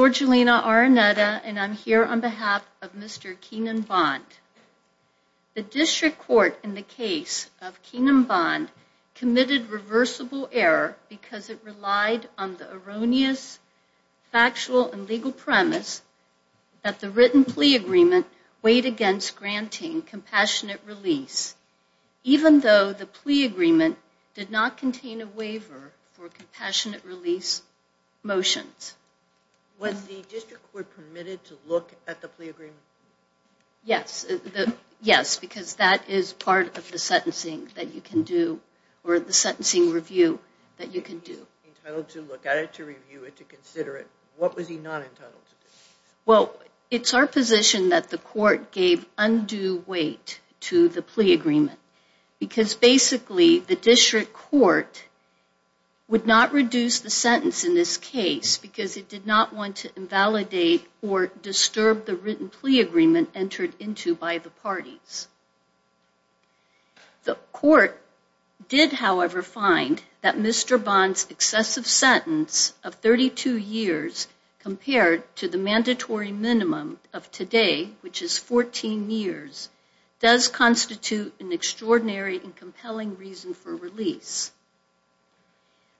The District Court in the case of Keanan Bond committed reversible error because it relied on the erroneous factual and legal premise that the written plea agreement weighed against granting compassionate release, even though the plea agreement did not contain a waiver for compassionate release motions. Was the District Court permitted to look at the plea agreement? Yes, because that is part of the sentencing that you can do, or the sentencing review that you can do. He was entitled to look at it, to review it, to consider it. What was he not entitled to do? Well, it's our position that the court gave undue weight to the plea agreement, because basically the District Court would not reduce the sentence in this case because it did not want to invalidate or disturb the written plea agreement entered into by the parties. The court did, however, find that Mr. Bond's excessive sentence of 32 years compared to the mandatory minimum of today, which is 14 years, does constitute an extraordinary and compelling reason for release.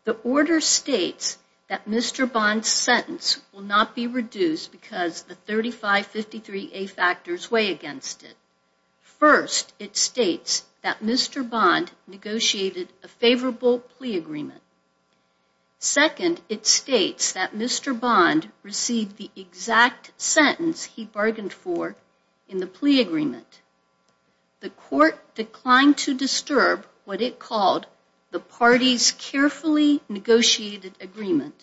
The order states that Mr. Bond's sentence will not be reduced because the 3553A factors weigh against it. First, it states that Mr. Bond negotiated a favorable plea agreement. Second, it states that Mr. Bond received the exact sentence he bargained for in the plea agreement. The court declined to disturb what it called the parties' carefully negotiated agreement.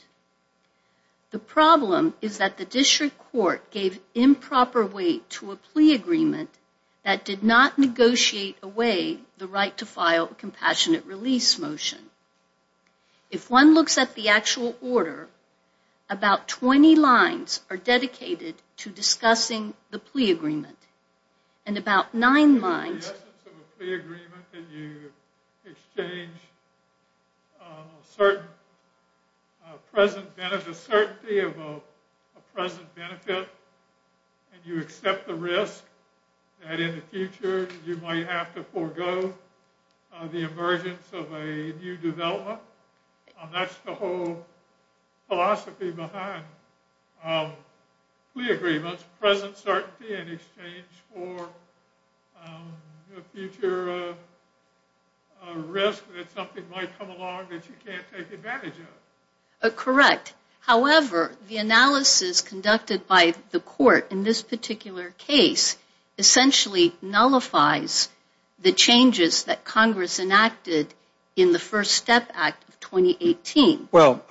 The problem is that the District Court gave improper weight to a plea agreement that did not negotiate away the right to file a compassionate release motion. If one looks at the actual order, about 20 lines are dedicated to discussing the plea agreement. In the essence of a plea agreement, you exchange a certainty of a present benefit and you accept the risk that in the future you might have to forego the emergence of a new development. That's the whole philosophy behind plea agreements, present certainty in exchange for a future risk that something might come along that you can't take advantage of. However, the analysis conducted by the court in this particular case essentially nullifies the changes that Congress enacted in the First Step Act of 2018. When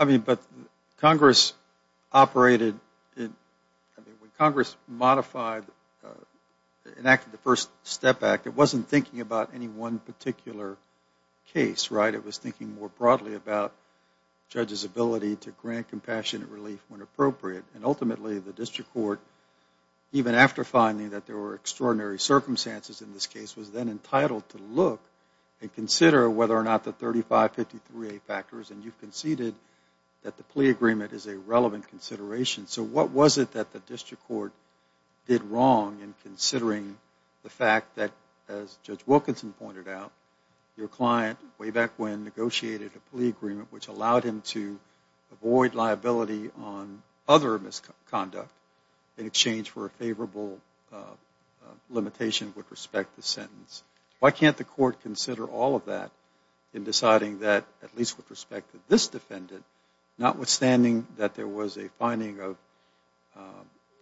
Congress enacted the First Step Act, it wasn't thinking about any one particular case. It was thinking more broadly about judges' ability to grant compassionate relief when appropriate. Ultimately, the District Court, even after finding that there were extraordinary circumstances in this case, was then entitled to look and consider whether or not the 3553A factors. You've conceded that the plea agreement is a relevant consideration. So what was it that the District Court did wrong in considering the fact that, as Judge Wilkinson pointed out, your client, way back when, negotiated a plea agreement which allowed him to avoid liability on other misconduct in exchange for a favorable limitation with respect to the sentence? Why can't the court consider all of that in deciding that, at least with respect to this defendant, notwithstanding that there was a finding of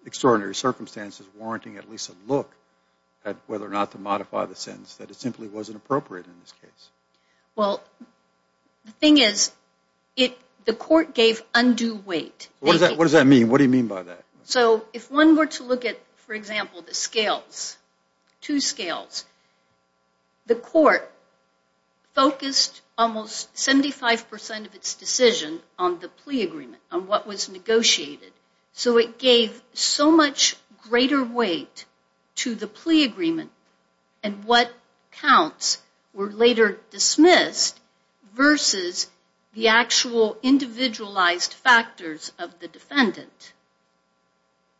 extraordinary circumstances warranting at least a look at whether or not to modify the sentence, that it simply wasn't appropriate in this case? Well, the thing is, the court gave undue weight. What does that mean? What do you mean by that? So if one were to look at, for example, the scales, two scales, the court focused almost 75% of its decision on the plea agreement, on what was negotiated. So it gave so much greater weight to the plea agreement and what counts were later dismissed versus the actual individualized factors of the defendant.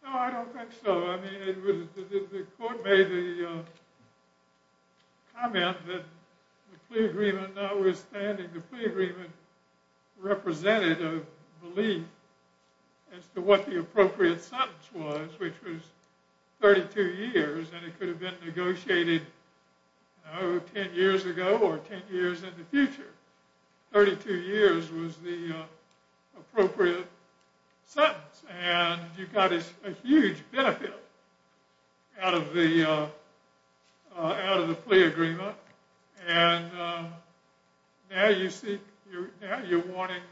No, I don't think so. I mean, the court made the comment that the plea agreement, notwithstanding the plea agreement, represented a belief as to what the appropriate sentence was, which was 32 years, and it could have been negotiated 10 years ago or 10 years in the future. 32 years was the appropriate sentence, and you got a huge benefit out of the plea agreement. And now you're wanting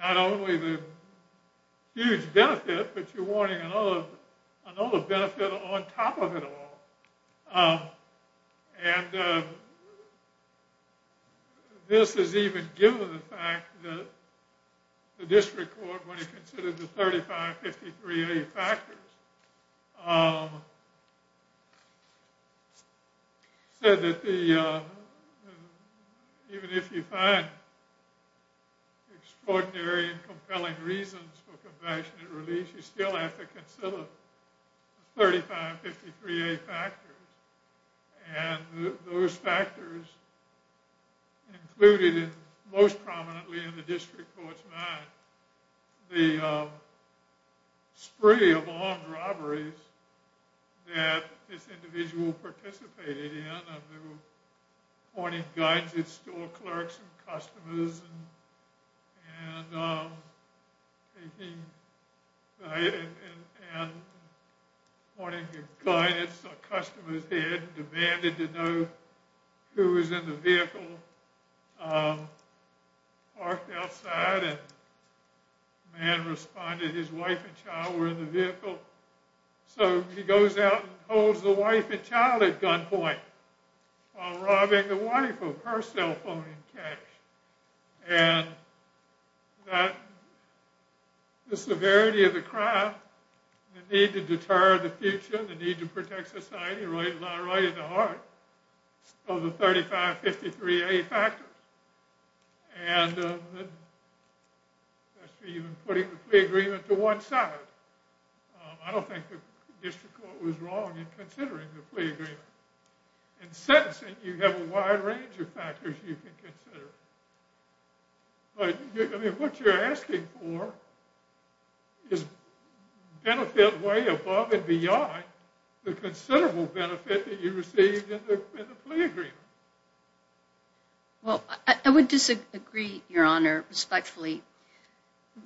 not only the huge benefit, but you're wanting another benefit on top of it all. And this is even given the fact that the district court, when it considered the 3553A factors, said that even if you find extraordinary and compelling reasons for confession and release, you still have to consider the 3553A factors. And those factors included, most prominently in the district court's mind, the spree of armed robberies that this individual participated in, appointing guidance to all clerks and customers, and appointing guidance to customers, and an officer went ahead and demanded to know who was in the vehicle. He parked outside, and the man responded that his wife and child were in the vehicle. So he goes out and holds the wife and child at gunpoint while robbing the wife of her cell phone in cash. And the severity of the crime, the need to deter the future, the need to protect society, lie right at the heart of the 3553A factors. And putting the plea agreement to one side. I don't think the district court was wrong in considering the plea agreement. In sentencing, you have a wide range of factors you can consider. But what you're asking for is benefit way above and beyond the considerable benefit that you received in the plea agreement. Well, I would disagree, Your Honor, respectfully.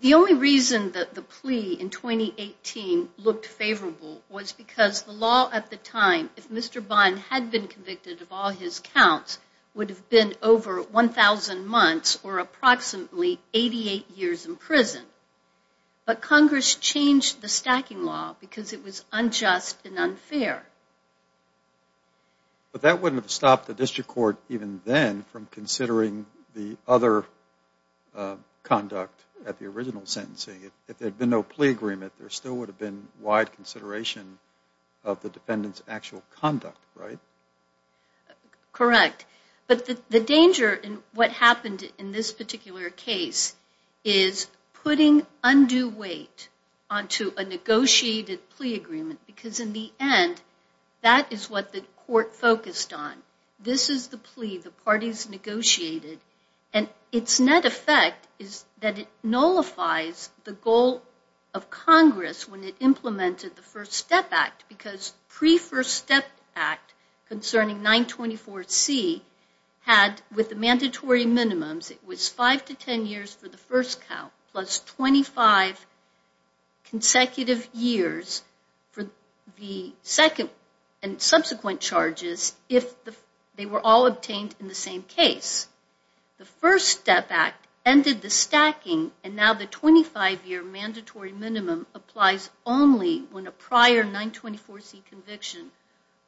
The only reason that the plea in 2018 looked favorable was because the law at the time, if Mr. Bond had been convicted of all his counts, would have been over 1,000 months or approximately 88 years in prison. But Congress changed the stacking law because it was unjust and unfair. But that wouldn't have stopped the district court even then from considering the other conduct at the original sentencing. If there had been no plea agreement, there still would have been wide consideration of the defendant's actual conduct, right? Correct. But the danger in what happened in this particular case is putting undue weight onto a negotiated plea agreement. Because in the end, that is what the court focused on. This is the plea the parties negotiated. And its net effect is that it nullifies the goal of Congress when it implemented the First Step Act, because pre-First Step Act concerning 924C had, with the mandatory minimums, it was 5 to 10 years for the first count plus 25 consecutive years for the second and subsequent charges if they were all obtained in the same case. The First Step Act ended the stacking and now the 25-year mandatory minimum applies only when a prior 924C conviction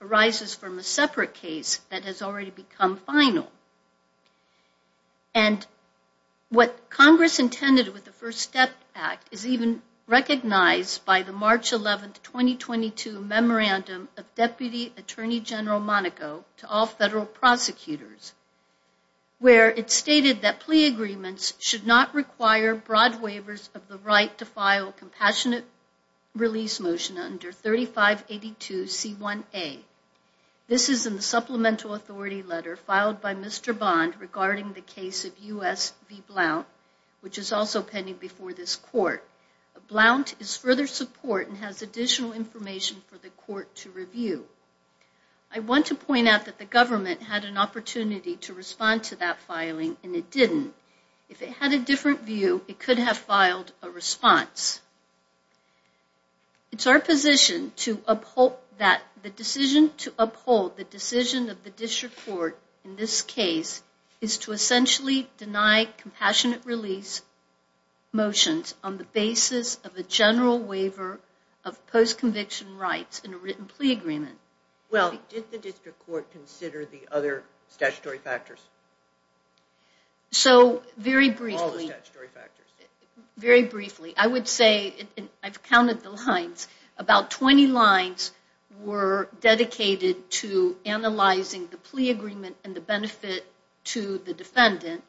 arises from a separate case that has already become final. And what Congress intended with the First Step Act is even recognized by the March 11, 2022, memorandum of Deputy Attorney General Monaco to all federal prosecutors where it stated that plea agreements should not require broad waivers of the right to file a compassionate release motion under 3582C1A. This is in the supplemental authority letter filed by Mr. Bond regarding the case of U.S. v. Blount, Blount is further support and has additional information for the court to review. I want to point out that the government had an opportunity to respond to that filing and it didn't. If it had a different view, it could have filed a response. It's our position that the decision to uphold the decision of the district court in this case is to essentially deny compassionate release motions on the basis of a general waiver of post-conviction rights in a written plea agreement. Well, did the district court consider the other statutory factors? So, very briefly, I would say, I've counted the lines, about 20 lines were dedicated to analyzing the plea agreement and the benefit to the defendant.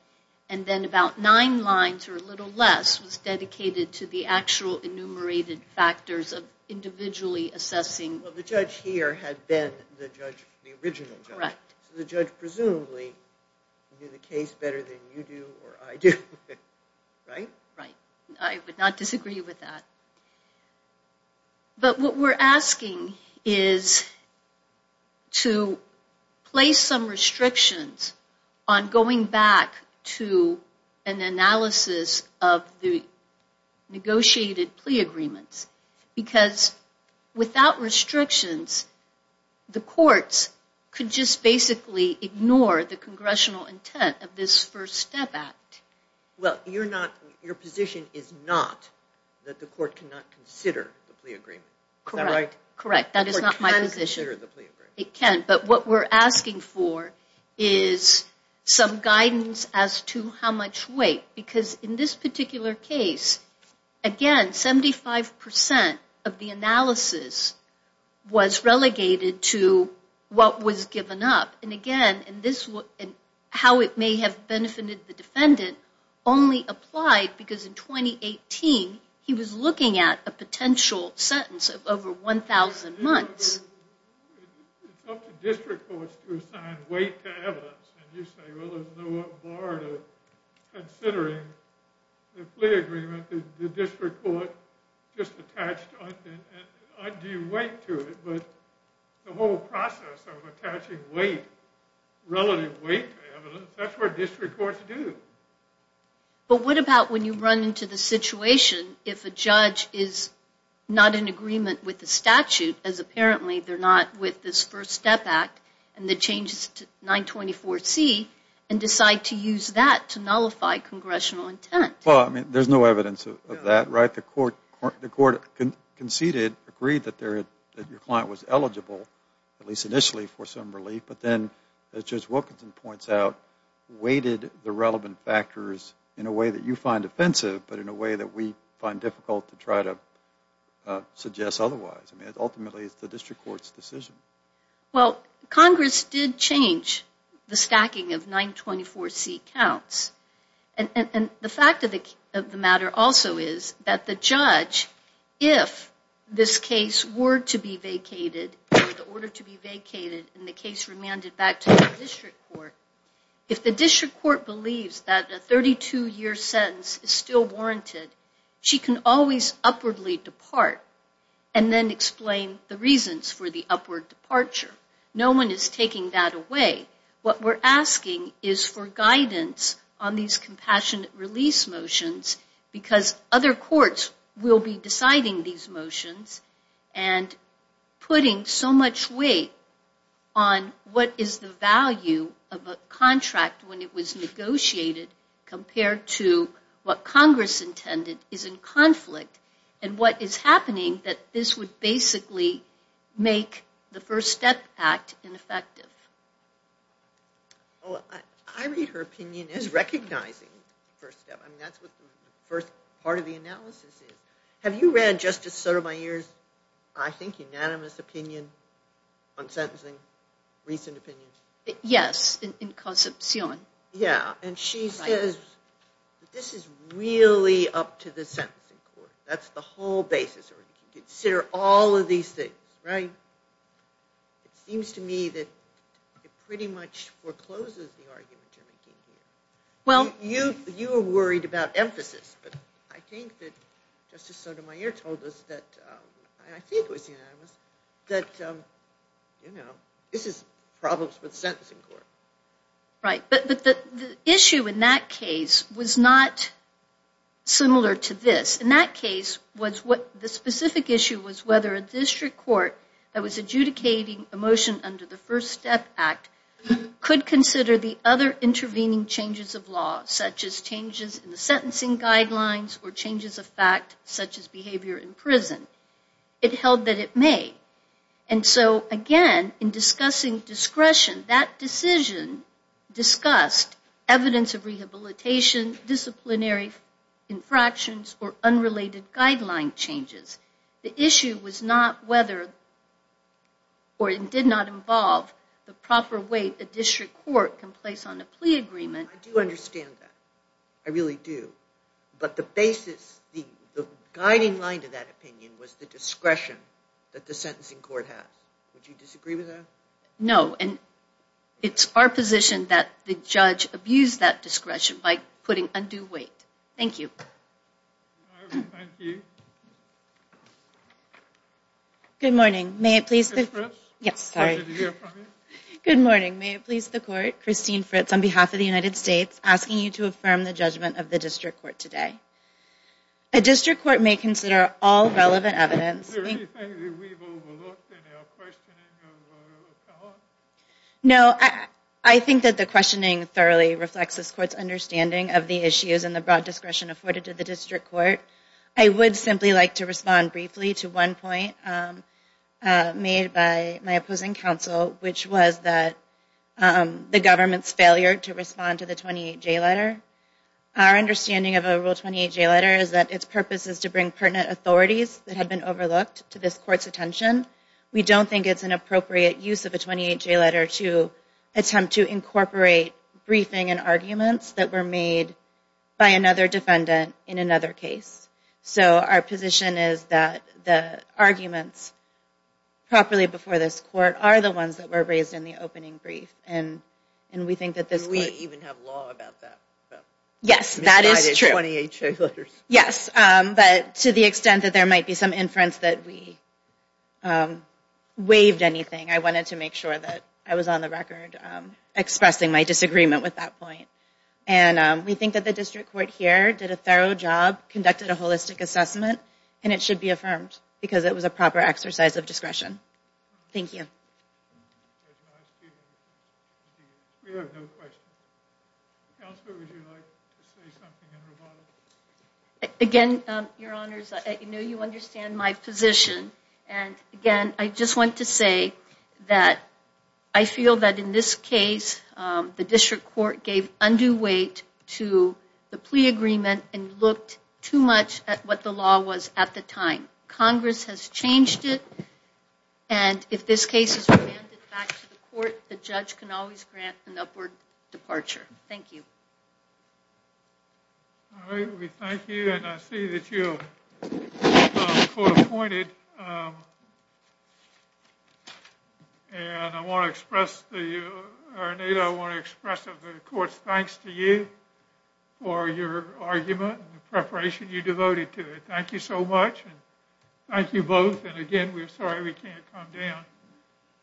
And then about nine lines or a little less was dedicated to the actual enumerated factors of individually assessing. Well, the judge here had been the judge, the original judge. Correct. So the judge presumably knew the case better than you do or I do. Right? Right. I would not disagree with that. But what we're asking is to place some restrictions on going back to an analysis of the negotiated plea agreements. Because without restrictions, the courts could just basically ignore the congressional intent of this First Step Act. Well, your position is not that the court cannot consider the plea agreement. Correct. Is that right? Correct. That is not my position. The court can consider the plea agreement. It can. But what we're asking for is some guidance as to how much weight. Because in this particular case, again, 75% of the analysis was relegated to what was given up. And again, how it may have benefited the defendant only applied because in 2018, he was looking at a potential sentence of over 1,000 months. It's up to district courts to assign weight to evidence. And you say, well, there's no bar to considering the plea agreement that the district court just attached undue weight to it. But the whole process of attaching weight, relative weight to evidence, that's what district courts do. But what about when you run into the situation if a judge is not in agreement with the statute, as apparently they're not with this First Step Act and the changes to 924C, and decide to use that to nullify congressional intent? Well, I mean, there's no evidence of that, right? The court conceded, agreed that your client was eligible, at least initially, for some relief. But then, as Judge Wilkinson points out, weighted the relevant factors in a way that you find offensive, but in a way that we find difficult to try to suggest otherwise. I mean, ultimately, it's the district court's decision. Well, Congress did change the stacking of 924C counts. And the fact of the matter also is that the judge, if this case were to be vacated, or the order to be vacated and the case remanded back to the district court, if the district court believes that a 32-year sentence is still warranted, she can always upwardly depart and then explain the reasons for the upward departure. No one is taking that away. What we're asking is for guidance on these compassionate release motions, because other courts will be deciding these motions and putting so much weight on what is the value of a contract when it was negotiated compared to what Congress intended is in conflict and what is happening that this would basically make the First Step Act ineffective. Oh, I read her opinion as recognizing First Step. I mean, that's what the first part of the analysis is. Have you read Justice Sotomayor's, I think, unanimous opinion on sentencing, recent opinion? Yes, in Concepcion. Yeah, and she says that this is really up to the sentencing court. That's the whole basis. Consider all of these things, right? It seems to me that it pretty much forecloses the argument you're making here. You were worried about emphasis, but I think that Justice Sotomayor told us that, I think it was unanimous, that this is problems with the sentencing court. Right, but the issue in that case was not similar to this. In that case, the specific issue was whether a district court that was adjudicating a motion under the First Step Act could consider the other intervening changes of law, such as changes in the sentencing guidelines or changes of fact, such as behavior in prison. It held that it may. And so, again, in discussing discretion, that decision discussed evidence of rehabilitation, disciplinary infractions, or unrelated guideline changes. The issue was not whether, or it did not involve the proper way a district court can place on a plea agreement. I do understand that. I really do. But the basis, the guiding line to that opinion was the discretion that the sentencing court has. Would you disagree with that? No. And it's our position that the judge abused that discretion by putting undue weight. Thank you. Thank you. Good morning. May it please the court, Christine Fritz, on behalf of the United States, asking you to affirm the judgment of the district court today. A district court may consider all relevant evidence. Is there anything that we've overlooked in our questioning of Collins? No, I think that the questioning thoroughly reflects this court's understanding of the issues and the broad discretion afforded to the district court. I would simply like to respond briefly to one point made by my opposing counsel, which was that the government's failure to respond to the 28-J letter. Our understanding of a Rule 28-J letter is that its purpose is to bring pertinent authorities that have been overlooked to this court's attention. We don't think it's an appropriate use of a 28-J letter to attempt to incorporate briefing and arguments that were made by another defendant in another case. So our position is that the arguments properly before this court are the ones that were raised in the opening brief, and we think that this court Do we even have law about that? Yes, that is true. Yes, but to the extent that there might be some inference that we waived anything, I wanted to make sure that I was on the record expressing my disagreement with that point. We think that the district court here did a thorough job, conducted a holistic assessment, and it should be affirmed because it was a proper exercise of discretion. Thank you. Again, Your Honors, I know you understand my position. Again, I just want to say that I feel that in this case, the district court gave undue weight to the plea agreement and looked too much at what the law was at the time. Congress has changed it, and if this case is remanded back to the court, the judge can always grant an upward departure. Thank you. All right, we thank you, and I see that you are court-appointed. And I want to express to you, or Anita, I want to express the court's thanks to you for your argument and the preparation you devoted to it. Thank you so much, and thank you both. And again, we're sorry we can't come down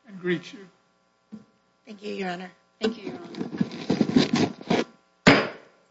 and greet you. Thank you, Your Honor.